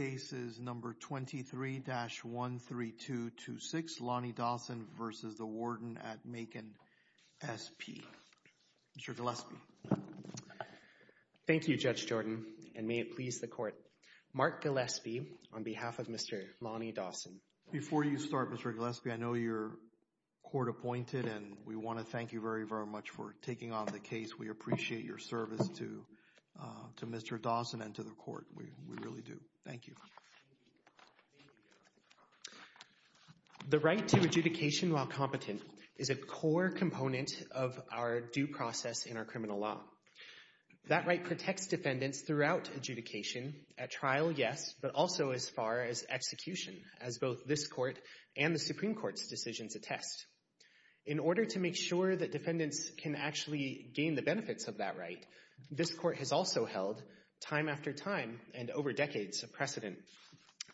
23-13226 Lonnie Dawson v. Macon SP Warden Mr. Gillespie Thank you Judge Jordan and may it please the court Mark Gillespie on behalf of Mr. Lonnie Dawson Before you start Mr. Gillespie I know you're court appointed and we want to thank you very very much for taking on the case We appreciate your service to Mr. Dawson and to the court, we really do. Thank you The right to adjudication while competent is a core component of our due process in our criminal law That right protects defendants throughout adjudication, at trial yes, but also as far as execution as both this court and the Supreme Court's decisions attest In order to make sure that defendants can actually gain the benefits of that right This court has also held time after time and over decades of precedent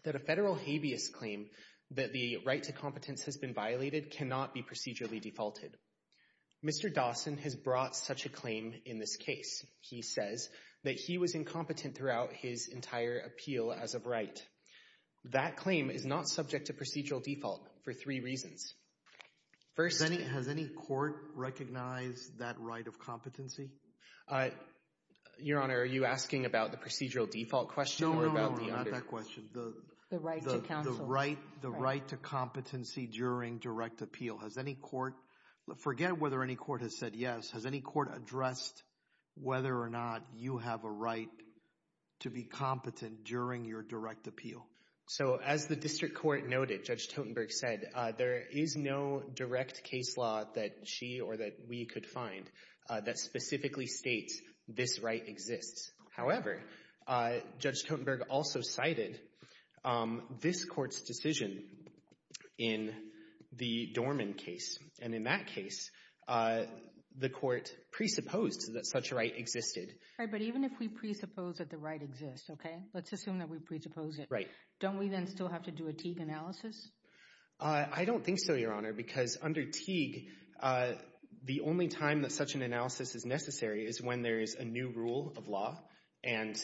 That a federal habeas claim that the right to competence has been violated cannot be procedurally defaulted Mr. Dawson has brought such a claim in this case He says that he was incompetent throughout his entire appeal as of right That claim is not subject to procedural default for three reasons Has any court recognized that right of competency? Your Honor, are you asking about the procedural default question? No, no, no, not that question The right to counsel The right to competency during direct appeal Forget whether any court has said yes, has any court addressed whether or not you have a right to be competent during your direct appeal? So as the district court noted, Judge Totenberg said there is no direct case law that she or that we could find That specifically states this right exists However, Judge Totenberg also cited this court's decision in the Dorman case And in that case, the court presupposed that such a right existed Right, but even if we presuppose that the right exists, okay, let's assume that we presuppose it Right Don't we then still have to do a Teague analysis? I don't think so, Your Honor, because under Teague, the only time that such an analysis is necessary is when there is a new rule of law And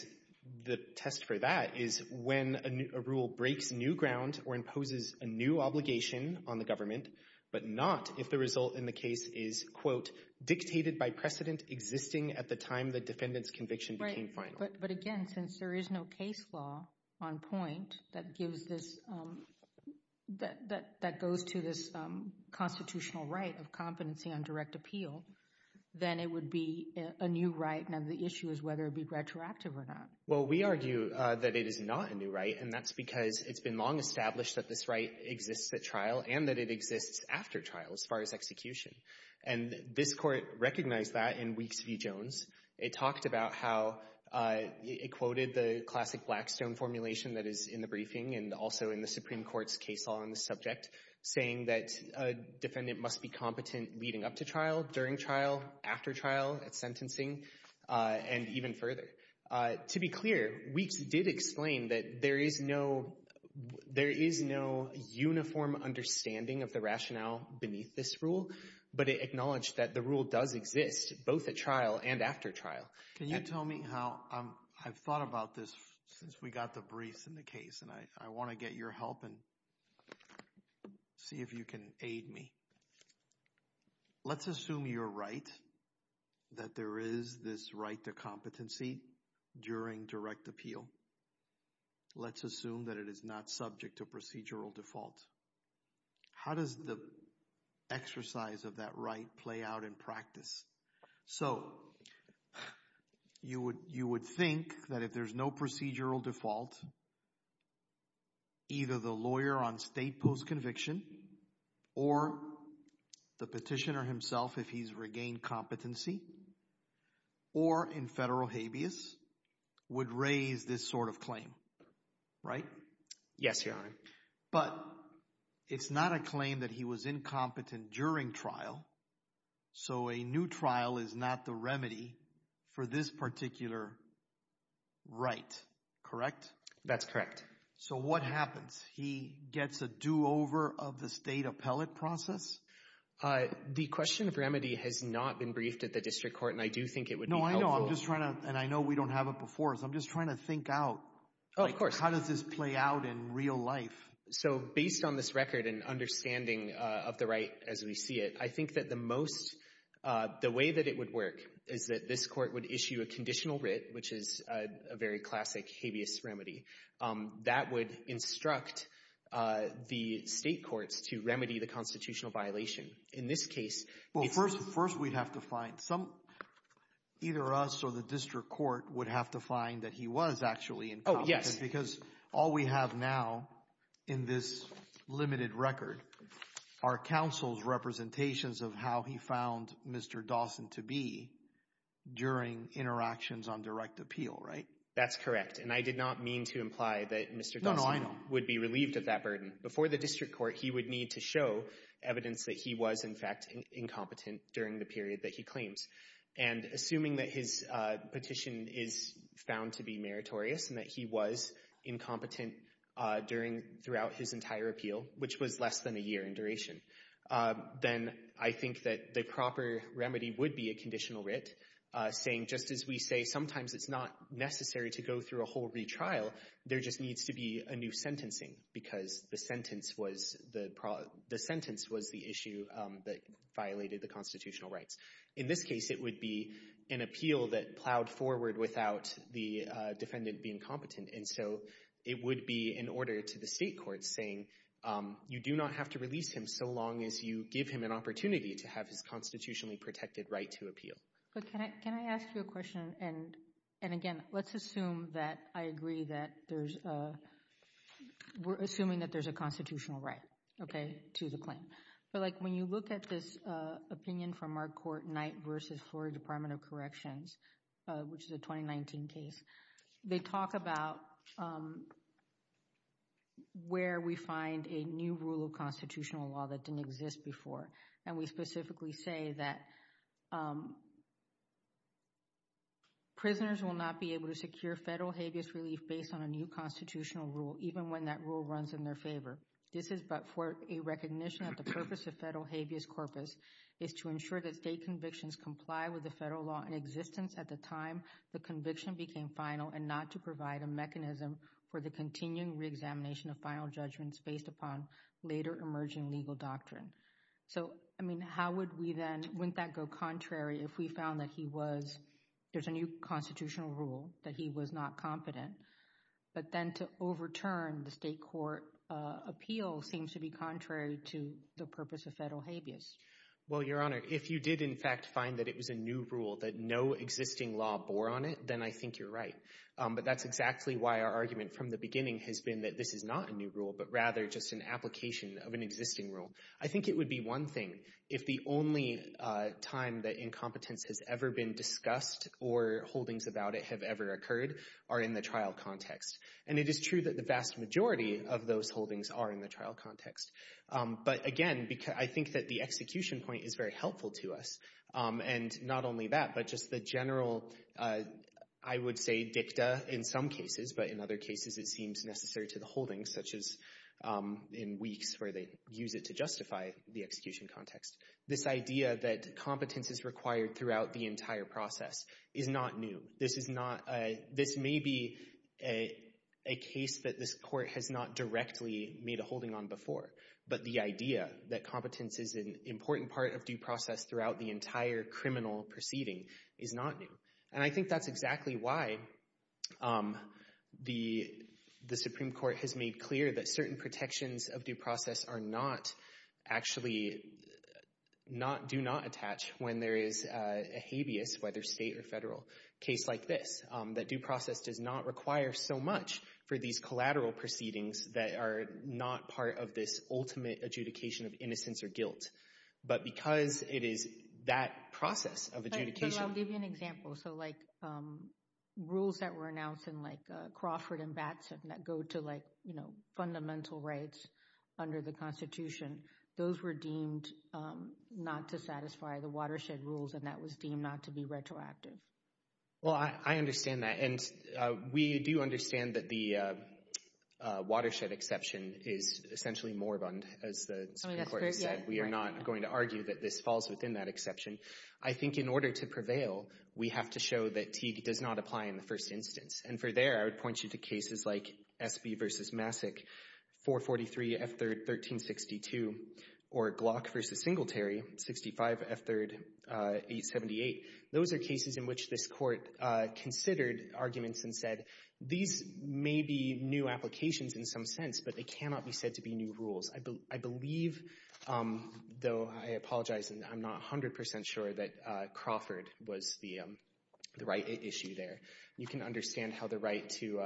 the test for that is when a rule breaks new ground or imposes a new obligation on the government But not if the result in the case is, quote, dictated by precedent existing at the time the defendant's conviction became final But again, since there is no case law on point that gives this, that goes to this constitutional right of competency on direct appeal Then it would be a new right, now the issue is whether it would be retroactive or not Well, we argue that it is not a new right, and that's because it's been long established that this right exists at trial And that it exists after trial as far as execution And this court recognized that in Weeks v. Jones It talked about how it quoted the classic Blackstone formulation that is in the briefing and also in the Supreme Court's case law on the subject Saying that a defendant must be competent leading up to trial, during trial, after trial, at sentencing, and even further To be clear, Weeks did explain that there is no uniform understanding of the rationale beneath this rule But it acknowledged that the rule does exist, both at trial and after trial Can you tell me how, I've thought about this since we got the briefs in the case And I want to get your help and see if you can aid me Let's assume you're right, that there is this right to competency during direct appeal Let's assume that it is not subject to procedural default How does the exercise of that right play out in practice? So, you would think that if there's no procedural default Either the lawyer on state post-conviction or the petitioner himself, if he's regained competency Or in federal habeas, would raise this sort of claim, right? Yes, Your Honor But, it's not a claim that he was incompetent during trial So a new trial is not the remedy for this particular right, correct? That's correct So what happens? He gets a do-over of the state appellate process? The question of remedy has not been briefed at the District Court and I do think it would be helpful No, I know, I'm just trying to, and I know we don't have it before, so I'm just trying to think out Oh, of course How does this play out in real life? So, based on this record and understanding of the right as we see it I think that the most, the way that it would work is that this court would issue a conditional writ Which is a very classic habeas remedy That would instruct the state courts to remedy the constitutional violation In this case Well, first we'd have to find some, either us or the District Court would have to find that he was actually incompetent Oh, yes Because all we have now in this limited record are counsel's representations of how he found Mr. Dawson to be During interactions on direct appeal, right? That's correct, and I did not mean to imply that Mr. Dawson would be relieved of that burden Before the District Court, he would need to show evidence that he was in fact incompetent during the period that he claims And assuming that his petition is found to be meritorious and that he was incompetent during, throughout his entire appeal Which was less than a year in duration Then I think that the proper remedy would be a conditional writ Saying, just as we say, sometimes it's not necessary to go through a whole retrial There just needs to be a new sentencing Because the sentence was, the sentence was the issue that violated the constitutional rights In this case it would be an appeal that plowed forward without the defendant being competent And so it would be an order to the state courts saying You do not have to release him so long as you give him an opportunity to have his constitutionally protected right to appeal But can I ask you a question? And again, let's assume that I agree that there's a We're assuming that there's a constitutional right, okay, to the claim But like when you look at this opinion from our court, Knight v. Florida Department of Corrections Which is a 2019 case They talk about where we find a new rule of constitutional law that didn't exist before And we specifically say that Prisoners will not be able to secure federal habeas relief based on a new constitutional rule Even when that rule runs in their favor This is but for a recognition that the purpose of federal habeas corpus Is to ensure that state convictions comply with the federal law in existence at the time the conviction became final And not to provide a mechanism for the continuing reexamination of final judgments based upon later emerging legal doctrine So, I mean, how would we then, wouldn't that go contrary if we found that he was There's a new constitutional rule that he was not competent But then to overturn the state court appeal seems to be contrary to the purpose of federal habeas Well, Your Honor, if you did in fact find that it was a new rule that no existing law bore on it Then I think you're right But that's exactly why our argument from the beginning has been that this is not a new rule But rather just an application of an existing rule I think it would be one thing if the only time that incompetence has ever been discussed Or holdings about it have ever occurred are in the trial context And it is true that the vast majority of those holdings are in the trial context But again, I think that the execution point is very helpful to us And not only that, but just the general, I would say, dicta in some cases But in other cases it seems necessary to the holdings Such as in weeks where they use it to justify the execution context This idea that competence is required throughout the entire process is not new This is not, this may be a case that this court has not directly made a holding on before But the idea that competence is an important part of due process throughout the entire criminal proceeding is not new And I think that's exactly why the Supreme Court has made clear That certain protections of due process are not actually, do not attach When there is a habeas, whether state or federal, case like this That due process does not require so much for these collateral proceedings That are not part of this ultimate adjudication of innocence or guilt But because it is that process of adjudication Well, I'll give you an example So like rules that were announced in Crawford and Batson That go to fundamental rights under the Constitution Those were deemed not to satisfy the watershed rules And that was deemed not to be retroactive Well, I understand that And we do understand that the watershed exception is essentially moribund As the Supreme Court has said We are not going to argue that this falls within that exception I think in order to prevail, we have to show that TD does not apply in the first instance And for there, I would point you to cases like Espy v. Massick 443 F. 3rd 1362 Or Glock v. Singletary 65 F. 3rd 878 Those are cases in which this court considered arguments and said These may be new applications in some sense But they cannot be said to be new rules I believe, though I apologize I'm not 100% sure that Crawford was the right issue there You can understand how the right to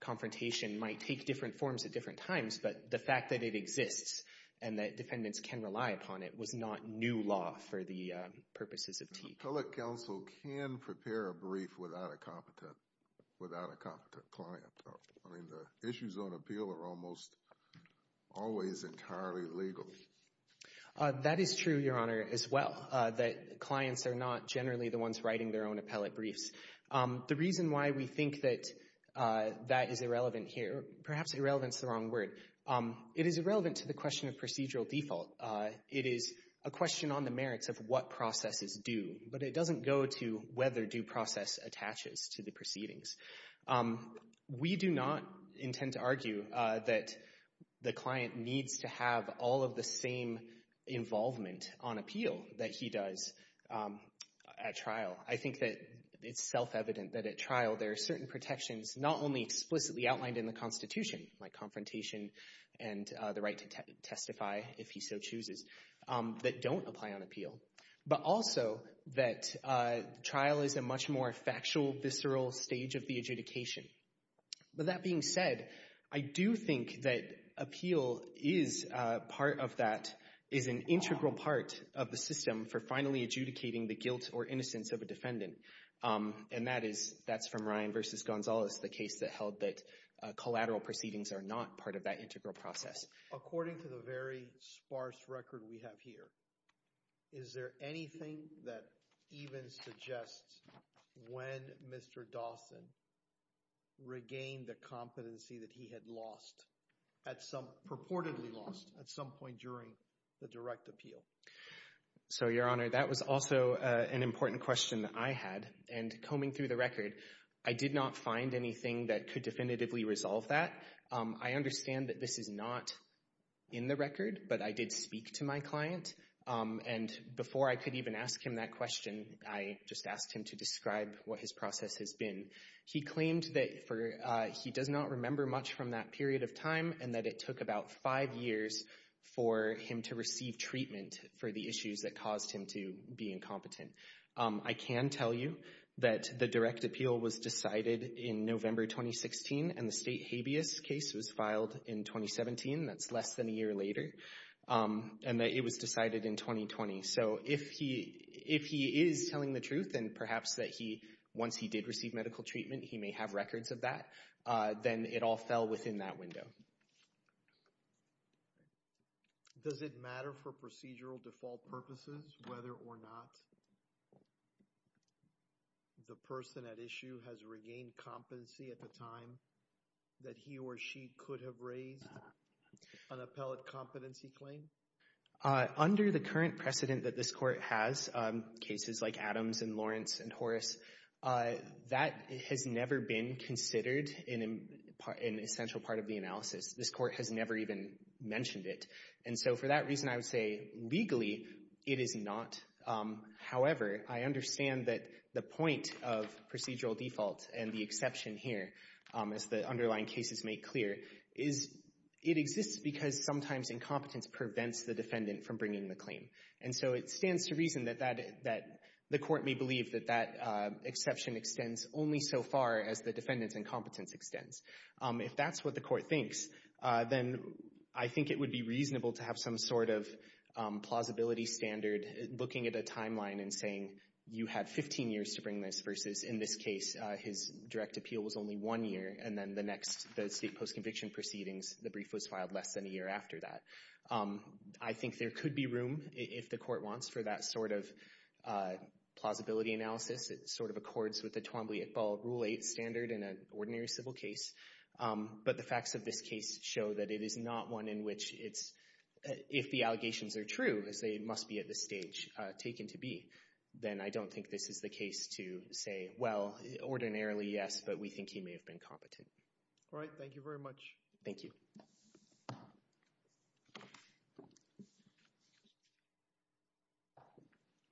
confrontation might take different forms at different times But the fact that it exists and that defendants can rely upon it Was not new law for the purposes of TD The appellate counsel can prepare a brief without a competent client The issues on appeal are almost always entirely legal That is true, Your Honor, as well That clients are not generally the ones writing their own appellate briefs The reason why we think that that is irrelevant here Perhaps irrelevant is the wrong word It is irrelevant to the question of procedural default It is a question on the merits of what processes do But it doesn't go to whether due process attaches to the proceedings We do not intend to argue that the client needs to have All of the same involvement on appeal that he does at trial I think that it's self-evident that at trial There are certain protections not only explicitly outlined in the Constitution Like confrontation and the right to testify if he so chooses That don't apply on appeal But also that trial is a much more factual, visceral stage of the adjudication With that being said, I do think that appeal is part of that Is an integral part of the system for finally adjudicating the guilt or innocence of a defendant And that's from Ryan v. Gonzalez, the case that held that Collateral proceedings are not part of that integral process According to the very sparse record we have here Is there anything that even suggests when Mr. Dawson Regained the competency that he had lost At some, purportedly lost at some point during the direct appeal So, Your Honor, that was also an important question that I had And combing through the record, I did not find anything that could definitively resolve that I understand that this is not in the record But I did speak to my client And before I could even ask him that question I just asked him to describe what his process has been He claimed that he does not remember much from that period of time And that it took about five years for him to receive treatment For the issues that caused him to be incompetent I can tell you that the direct appeal was decided in November 2016 And the state habeas case was filed in 2017 That's less than a year later And that it was decided in 2020 So, if he is telling the truth And perhaps that once he did receive medical treatment He may have records of that Then it all fell within that window Does it matter for procedural default purposes whether or not The person at issue has regained competency at the time That he or she could have raised an appellate competency claim? Under the current precedent that this court has Cases like Adams and Lawrence and Horace That has never been considered an essential part of the analysis This court has never even mentioned it And so for that reason I would say legally it is not However, I understand that the point of procedural default And the exception here, as the underlying cases make clear Is it exists because sometimes incompetence prevents the defendant From bringing the claim And so it stands to reason that the court may believe That that exception extends only so far As the defendant's incompetence extends If that's what the court thinks Then I think it would be reasonable to have some sort of Plausibility standard looking at a timeline and saying You had 15 years to bring this Versus in this case his direct appeal was only one year And then the next, the state post-conviction proceedings The brief was filed less than a year after that I think there could be room, if the court wants For that sort of plausibility analysis It sort of accords with the Twombly-Iqbal Rule 8 standard In an ordinary civil case But the facts of this case show that it is not one in which It's, if the allegations are true As they must be at this stage taken to be Then I don't think this is the case to say Well, ordinarily, yes, but we think he may have been competent All right, thank you very much Thank you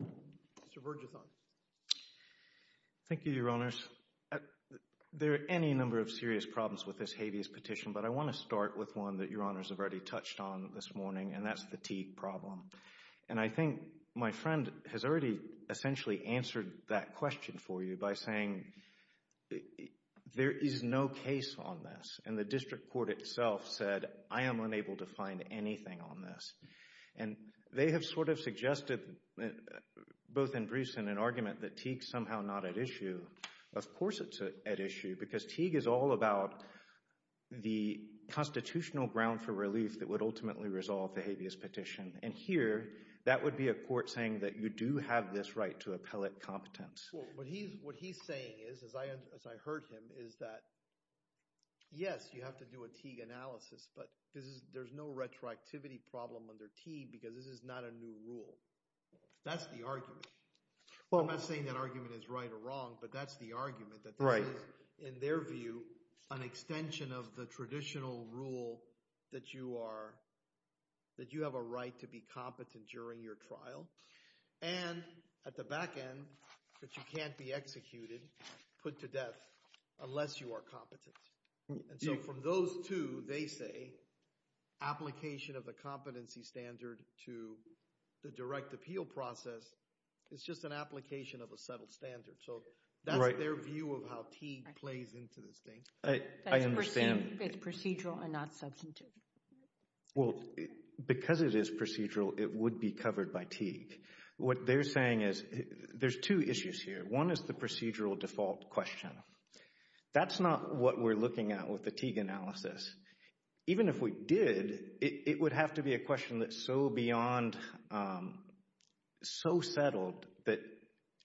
Mr. Bergethon Thank you, Your Honors There are any number of serious problems with this habeas petition But I want to start with one that Your Honors have already touched on This morning, and that's fatigue problem And I think my friend has already Essentially answered that question for you by saying There is no case on this And the district court itself said I am unable to find anything on this And they have sort of suggested Both in briefs and in argument that fatigue is somehow not at issue Of course it's at issue, because fatigue is all about The constitutional ground for relief That would ultimately resolve the habeas petition And here, that would be a court saying that you do have this right To appellate competence What he's saying is, as I heard him, is that Yes, you have to do a fatigue analysis But there's no retroactivity problem under fatigue Because this is not a new rule That's the argument I'm not saying that argument is right or wrong But that's the argument That this is, in their view, an extension of the traditional rule That you are, that you have a right To be competent during your trial And at the back end, that you can't be executed Put to death unless you are competent And so from those two, they say Application of the competency standard To the direct appeal process Is just an application of a settled standard So that's their view of how Teague plays into this thing It's procedural and not substantive Well, because it is procedural It would be covered by Teague What they're saying is, there's two issues here One is the procedural default question That's not what we're looking at with the Teague analysis Even if we did, it would have to be a question That's so beyond, so settled That,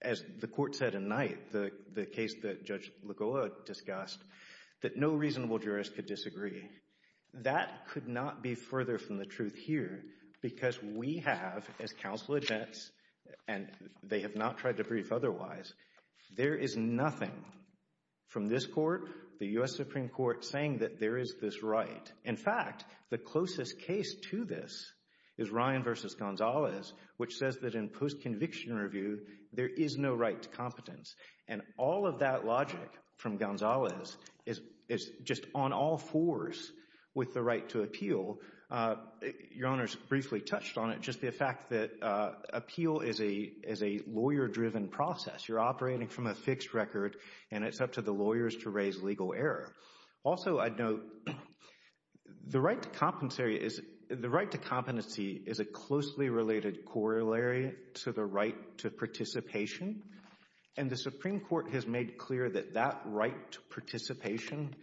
as the court said at night The case that Judge Legola discussed That no reasonable jurist could disagree That could not be further from the truth here Because we have, as counsel admits And they have not tried to brief otherwise There is nothing from this court The U.S. Supreme Court, saying that there is this right In fact, the closest case to this Is Ryan v. Gonzalez, which says that in post-conviction review There is no right to competence And all of that logic from Gonzalez Is just on all fours with the right to appeal Your Honor's briefly touched on it Just the fact that appeal is a lawyer-driven process You're operating from a fixed record And it's up to the lawyers to raise legal error Also, I'd note, the right to competency Is a closely related corollary To the right to participation And the Supreme Court has made clear that that right To participation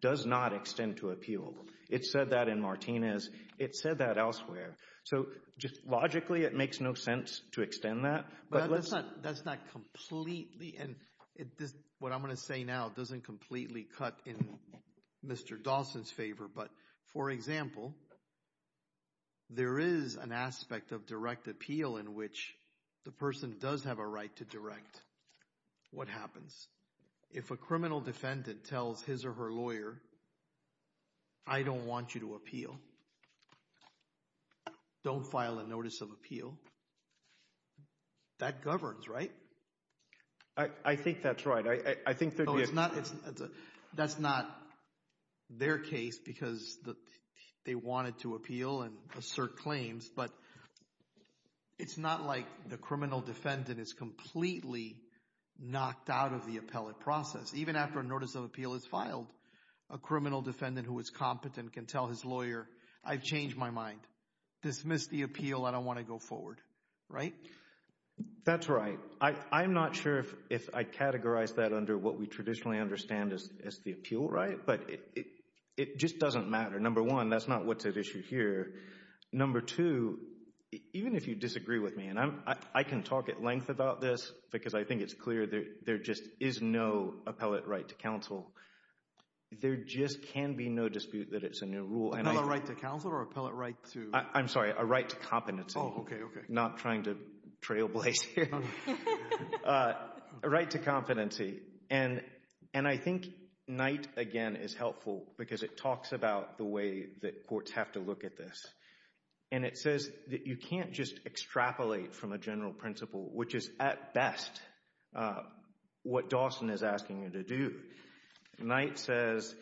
does not extend to appeal It said that in Martinez. It said that elsewhere So, logically, it makes no sense To extend that That's not completely, and what I'm going to say now Doesn't completely cut in Mr. Dawson's favor But, for example There is an aspect of direct appeal In which the person does have a right to direct What happens? If a criminal defendant tells his or her lawyer I don't want you to appeal Don't file a notice of appeal That governs, right? I think that's right That's not their case Because they wanted to appeal And assert claims But it's not like the criminal defendant is completely Knocked out of the appellate process Even after a notice of appeal is filed A criminal defendant who is competent can tell his lawyer I've changed my mind. Dismiss the appeal I don't want to go forward, right? That's right. I'm not sure if I'd categorize that Under what we traditionally understand as the appeal, right? But it just doesn't matter Number one, that's not what's at issue here Number two, even if you disagree with me And I can talk at length about this Because I think it's clear there just is no appellate right to counsel There just can be no dispute that it's a new rule An appellate right to counsel? I'm sorry, a right to competency Not trying to trailblaze here A right to competency And I think Knight, again, is helpful Because it talks about the way that courts have to look at this And it says that you can't just Extrapolate from a general principle Which is, at best, what Dawson is asking you to do Knight says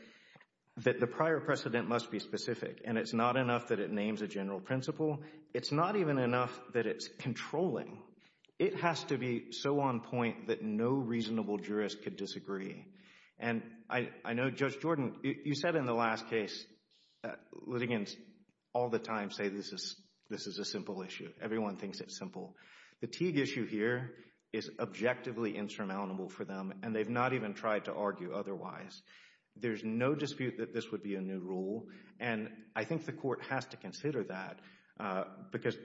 That the prior precedent must be specific And it's not enough that it names a general principle It's not even enough that it's controlling It has to be so on point that no reasonable jurist Could disagree And I know, Judge Jordan, you said in the last case That litigants all the time say this is a simple issue Everyone thinks it's simple The Teague issue here is objectively insurmountable for them And they've not even tried to argue otherwise There's no dispute that this would be a new rule And I think the court has to consider that Because,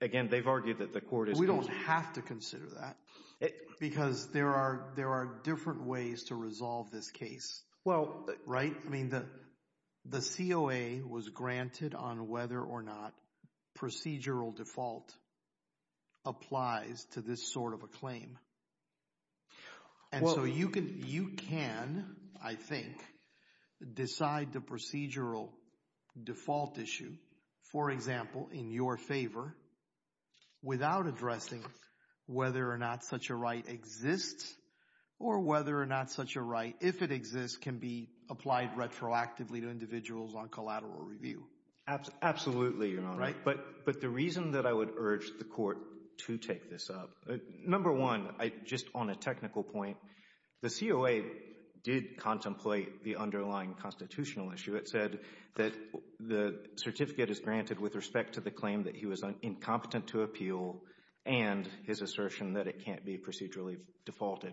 again, they've argued that the court is We don't have to consider that Because there are different ways to resolve this case Right? The COA was granted on whether or not Procedural default applies To this sort of a claim And so you can, I think Decide the procedural default issue For example, in your favor Without addressing Whether or not such a right exists Or whether or not such a right, if it exists Can be applied retroactively to individuals on collateral review Absolutely, Your Honor But the reason that I would urge the court to take this up Number one, just on a technical point The COA did contemplate the underlying Constitutional issue. It said that The certificate is granted with respect to the claim that he was Incompetent to appeal and his assertion That it can't be procedurally defaulted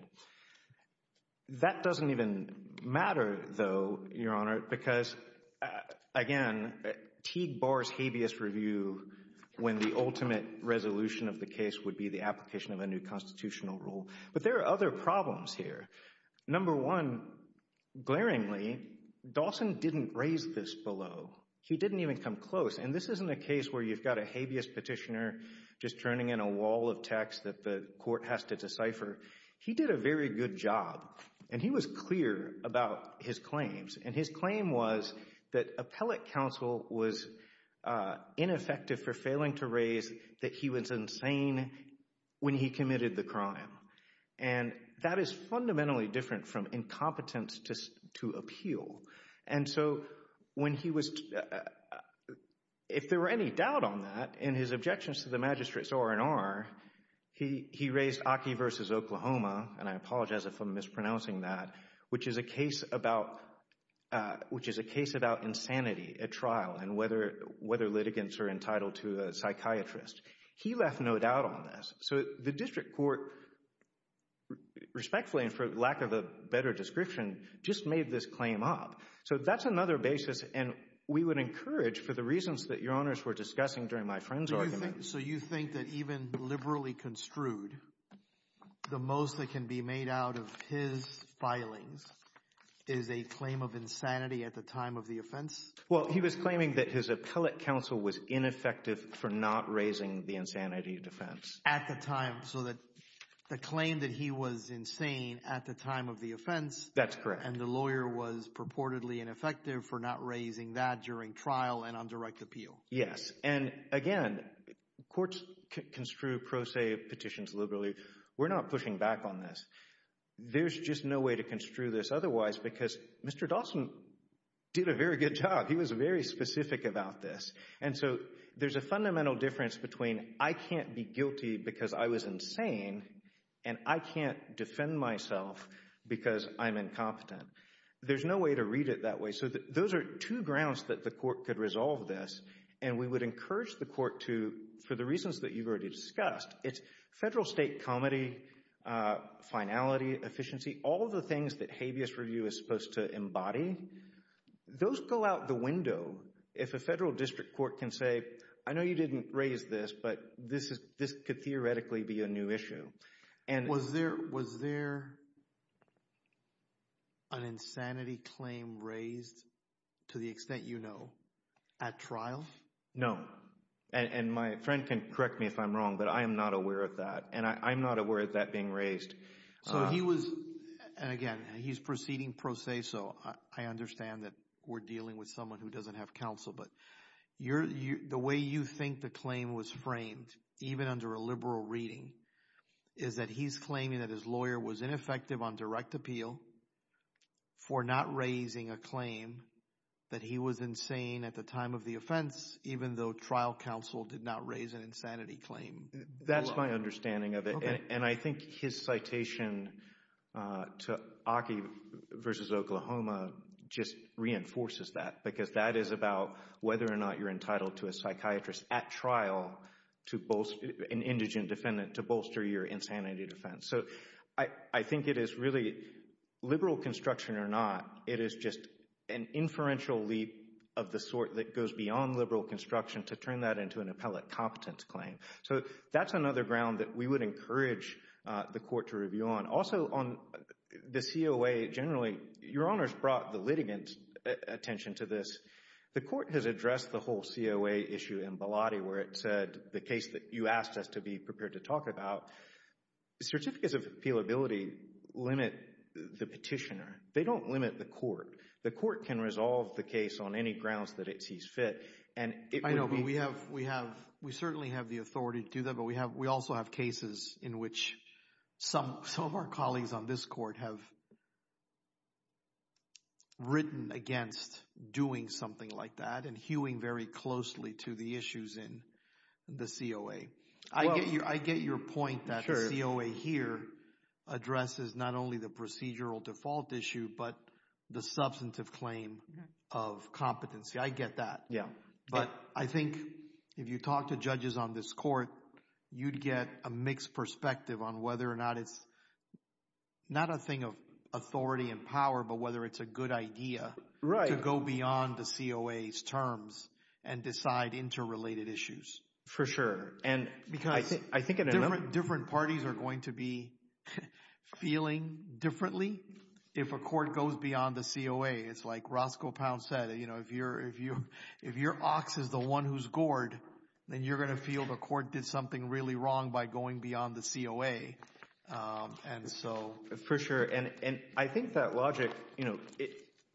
That doesn't even matter, though Your Honor, because, again Teague bars habeas review When the ultimate resolution of the case would be The application of a new constitutional rule But there are other problems here. Number one Glaringly, Dawson didn't raise this below He didn't even come close And this isn't a case where you've got a habeas petitioner Just turning in a wall of text that the court has to decipher He did a very good job And he was clear about his claims And his claim was that appellate counsel Was ineffective for failing to raise That he was insane when he committed the crime And that is fundamentally different From incompetence to appeal And so when he was If there were any doubt on that In his objections to the magistrate's R&R He raised Aki versus Oklahoma And I apologize if I'm mispronouncing that Which is a case about insanity At trial and whether litigants are entitled To a psychiatrist. He left no doubt on this So the district court Respectfully, and for lack of a better description Just made this claim up. So that's another basis And we would encourage, for the reasons that Your Honors were discussing During my friend's argument So you think that even liberally construed The most that can be made out of his Filings is a claim of insanity At the time of the offense? Well, he was claiming that his appellate counsel was ineffective For not raising the insanity defense So the claim that he was insane At the time of the offense And the lawyer was purportedly ineffective For not raising that during trial and on direct appeal Yes, and again Courts construe pro se petitions liberally We're not pushing back on this There's just no way to construe this otherwise Because Mr. Dawson did a very good job He was very specific about this And so there's a fundamental difference between I can't be guilty because I was insane And I can't defend myself Because I'm incompetent There's no way to read it that way So those are two grounds that the court could resolve this And we would encourage the court to, for the reasons that you've already discussed It's federal state comity, finality, efficiency All of the things that habeas review is supposed to embody Those go out the window If a federal district court can say I know you didn't raise this But this could theoretically be a new issue Was there an insanity claim raised To the extent you know At trial? No, and my friend can correct me if I'm wrong But I'm not aware of that And I'm not aware of that being raised So he was, and again, he's proceeding pro se I understand that we're dealing with someone who doesn't have counsel But the way you think the claim was framed Even under a liberal reading Is that he's claiming that his lawyer was ineffective on direct appeal For not raising a claim That he was insane at the time of the offense Even though trial counsel did not raise an insanity claim That's my understanding of it And I think his citation To Aki v. Oklahoma Just reinforces that Because that is about whether or not you're entitled to a psychiatrist At trial, an indigent defendant To bolster your insanity defense So I think it is really, liberal construction or not It is just an inferential leap Of the sort that goes beyond liberal construction To turn that into an appellate competence claim So that's another ground that we would encourage the court to review on Also on the COA generally Your Honor's brought the litigant's attention to this The court has addressed the whole COA issue In Bilotti where it said The case that you asked us to be prepared to talk about Certificates of appealability limit the petitioner They don't limit the court The court can resolve the case on any grounds that it sees fit We certainly have the authority to do that But we also have cases in which Some of our colleagues on this court have Written against Doing something like that and hewing very closely To the issues in the COA I get your point that the COA here Addresses not only the procedural default issue But the substantive claim of competency I get that but I think If you talk to judges on this court You'd get a mixed perspective on whether or not It's not a thing of authority and power But whether it's a good idea to go beyond the COA's terms And decide interrelated issues For sure Different parties are going to be Feeling differently If a court goes beyond the COA It's like Roscoe Pound said If your ox is the one who's gored Then you're going to feel the court did something really wrong by going beyond the COA For sure And I think that logic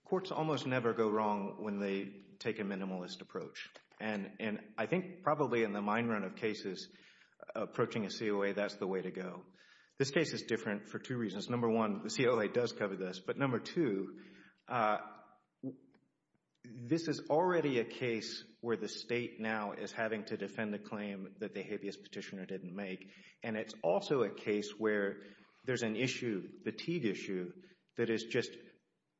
Courts almost never go wrong when they take a minimalist approach And I think probably in the mine run of cases Approaching a COA that's the way to go This case is different for two reasons Number one, the COA does cover this But number two, this is already a case Where the state now is having to defend a claim That the habeas petitioner didn't make And it's also a case where there's an issue That is just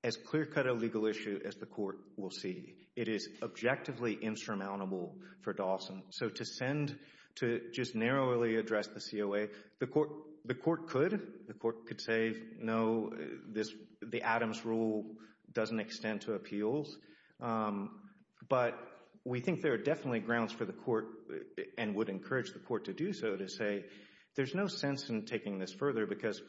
as clear cut a legal issue As the court will see It is objectively insurmountable for Dawson So to send, to just narrowly address the COA The court could The court could say no, the Adams rule Doesn't extend to appeals But we think there are definitely grounds for the court And would encourage the court to do so To say there's no sense in taking this further Because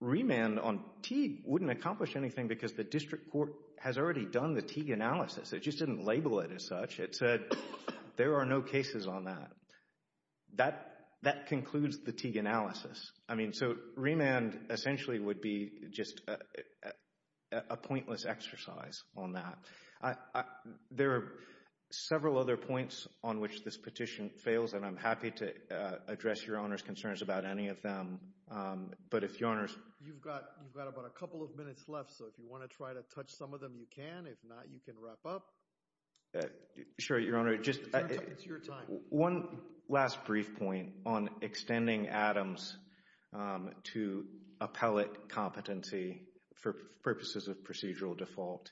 remand on Teague wouldn't accomplish anything Because the district court has already done the Teague analysis It just didn't label it as such It said there are no cases on that That concludes the Teague analysis So remand essentially would be Just a pointless exercise on that There are several other points On which this petition fails And I'm happy to address your Honour's concerns about any of them But if your Honour's You've got about a couple of minutes left So if you want to try to touch some of them you can If not you can wrap up Sure, your Honour One last brief point on extending Adams To appellate competency For purposes of procedural default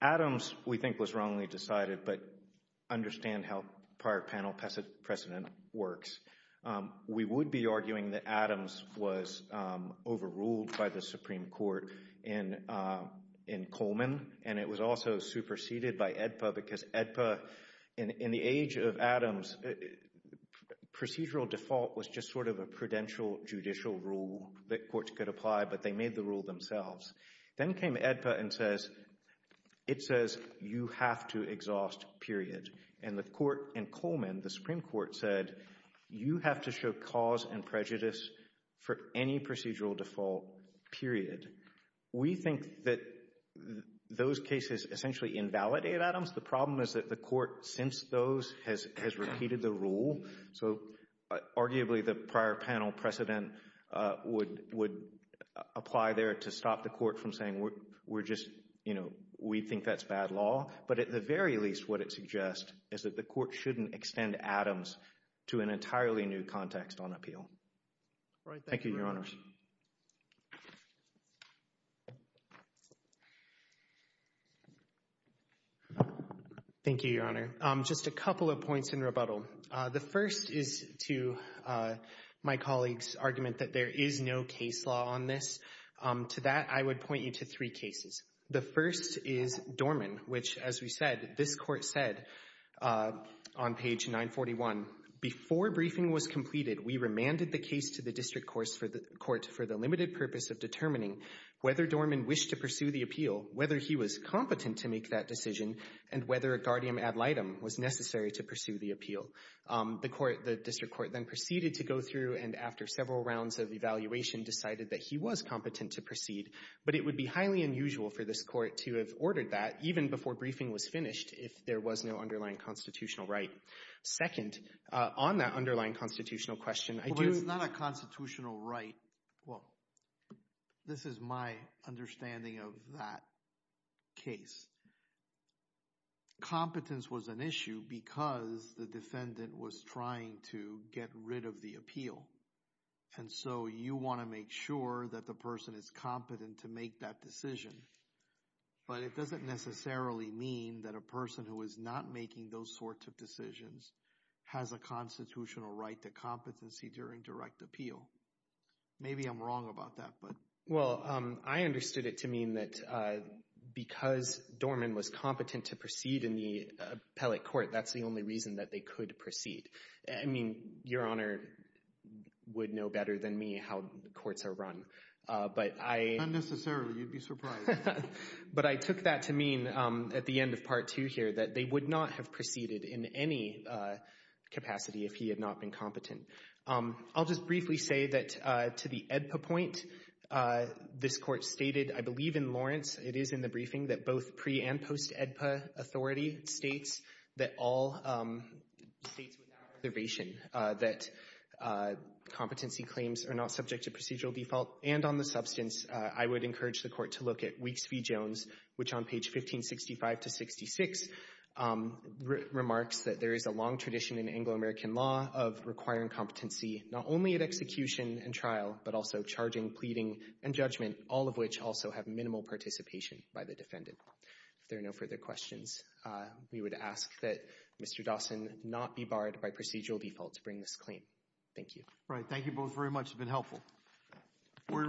Adams we think was wrongly decided But understand how prior panel precedent works We would be arguing that Adams was Overruled by the Supreme Court In Coleman and it was also Superseded by AEDPA because AEDPA In the age of Adams Procedural default was just sort of a prudential judicial rule That courts could apply but they made the rule themselves Then came AEDPA and says It says you have to exhaust period And the court in Coleman, the Supreme Court said You have to show cause and prejudice For any procedural default period We think that those cases Essentially invalidate Adams. The problem is that the court Since those has repeated the rule So arguably the prior panel precedent Would apply there to stop the court From saying we think that's bad law But at the very least what it suggests is that the court Shouldn't extend Adams to an entirely new context On appeal. Thank you, your Honours Thank you, your Honour. Just a couple of points In rebuttal. The first is to My colleagues argument that there is no case law On this. To that I would point you to three cases The first is Dorman, which as we said This court said on page 941 Before briefing was completed we remanded The case to the district court for the limited purpose Of determining whether Dorman wished to pursue the appeal Whether he was competent to make that decision And whether a guardian ad litem was necessary to pursue the appeal The district court then proceeded to go through And after several rounds of evaluation decided that he was Unusual for this court to have ordered that even before briefing Was finished if there was no underlying constitutional right Second, on that underlying constitutional question Well it was not a constitutional right Well this is my understanding Of that case Competence was an issue because The defendant was trying to get rid of the appeal And so you want to make sure That the person is competent to make that decision But it doesn't necessarily mean that a person Who is not making those sorts of decisions Has a constitutional right to competency during Direct appeal. Maybe I'm wrong about that Well I understood it to mean that Because Dorman was competent to proceed In the appellate court that's the only reason that they could Proceed. I mean your honor Would know better than me how courts are run Unnecessarily you'd be surprised But I took that to mean at the end of part 2 here That they would not have proceeded in any Capacity if he had not been competent I'll just briefly say that to the EDPA point This court stated I believe in Lawrence It is in the briefing that both pre and post EDPA Authority states that all States with that observation that Competency claims are not subject to procedural default And on the substance I would encourage the court to look at Weeks v. Jones which on page 1565-66 Remarks that there is a long tradition In Anglo-American law of requiring competency Not only at execution and trial but also charging Pleading and judgment all of which also have minimal participation By the defendant. If there are no further questions We would ask that Mr. Dawson not be barred By procedural default to bring this claim. Thank you Right. Thank you both very much. It's been helpful We're in recess.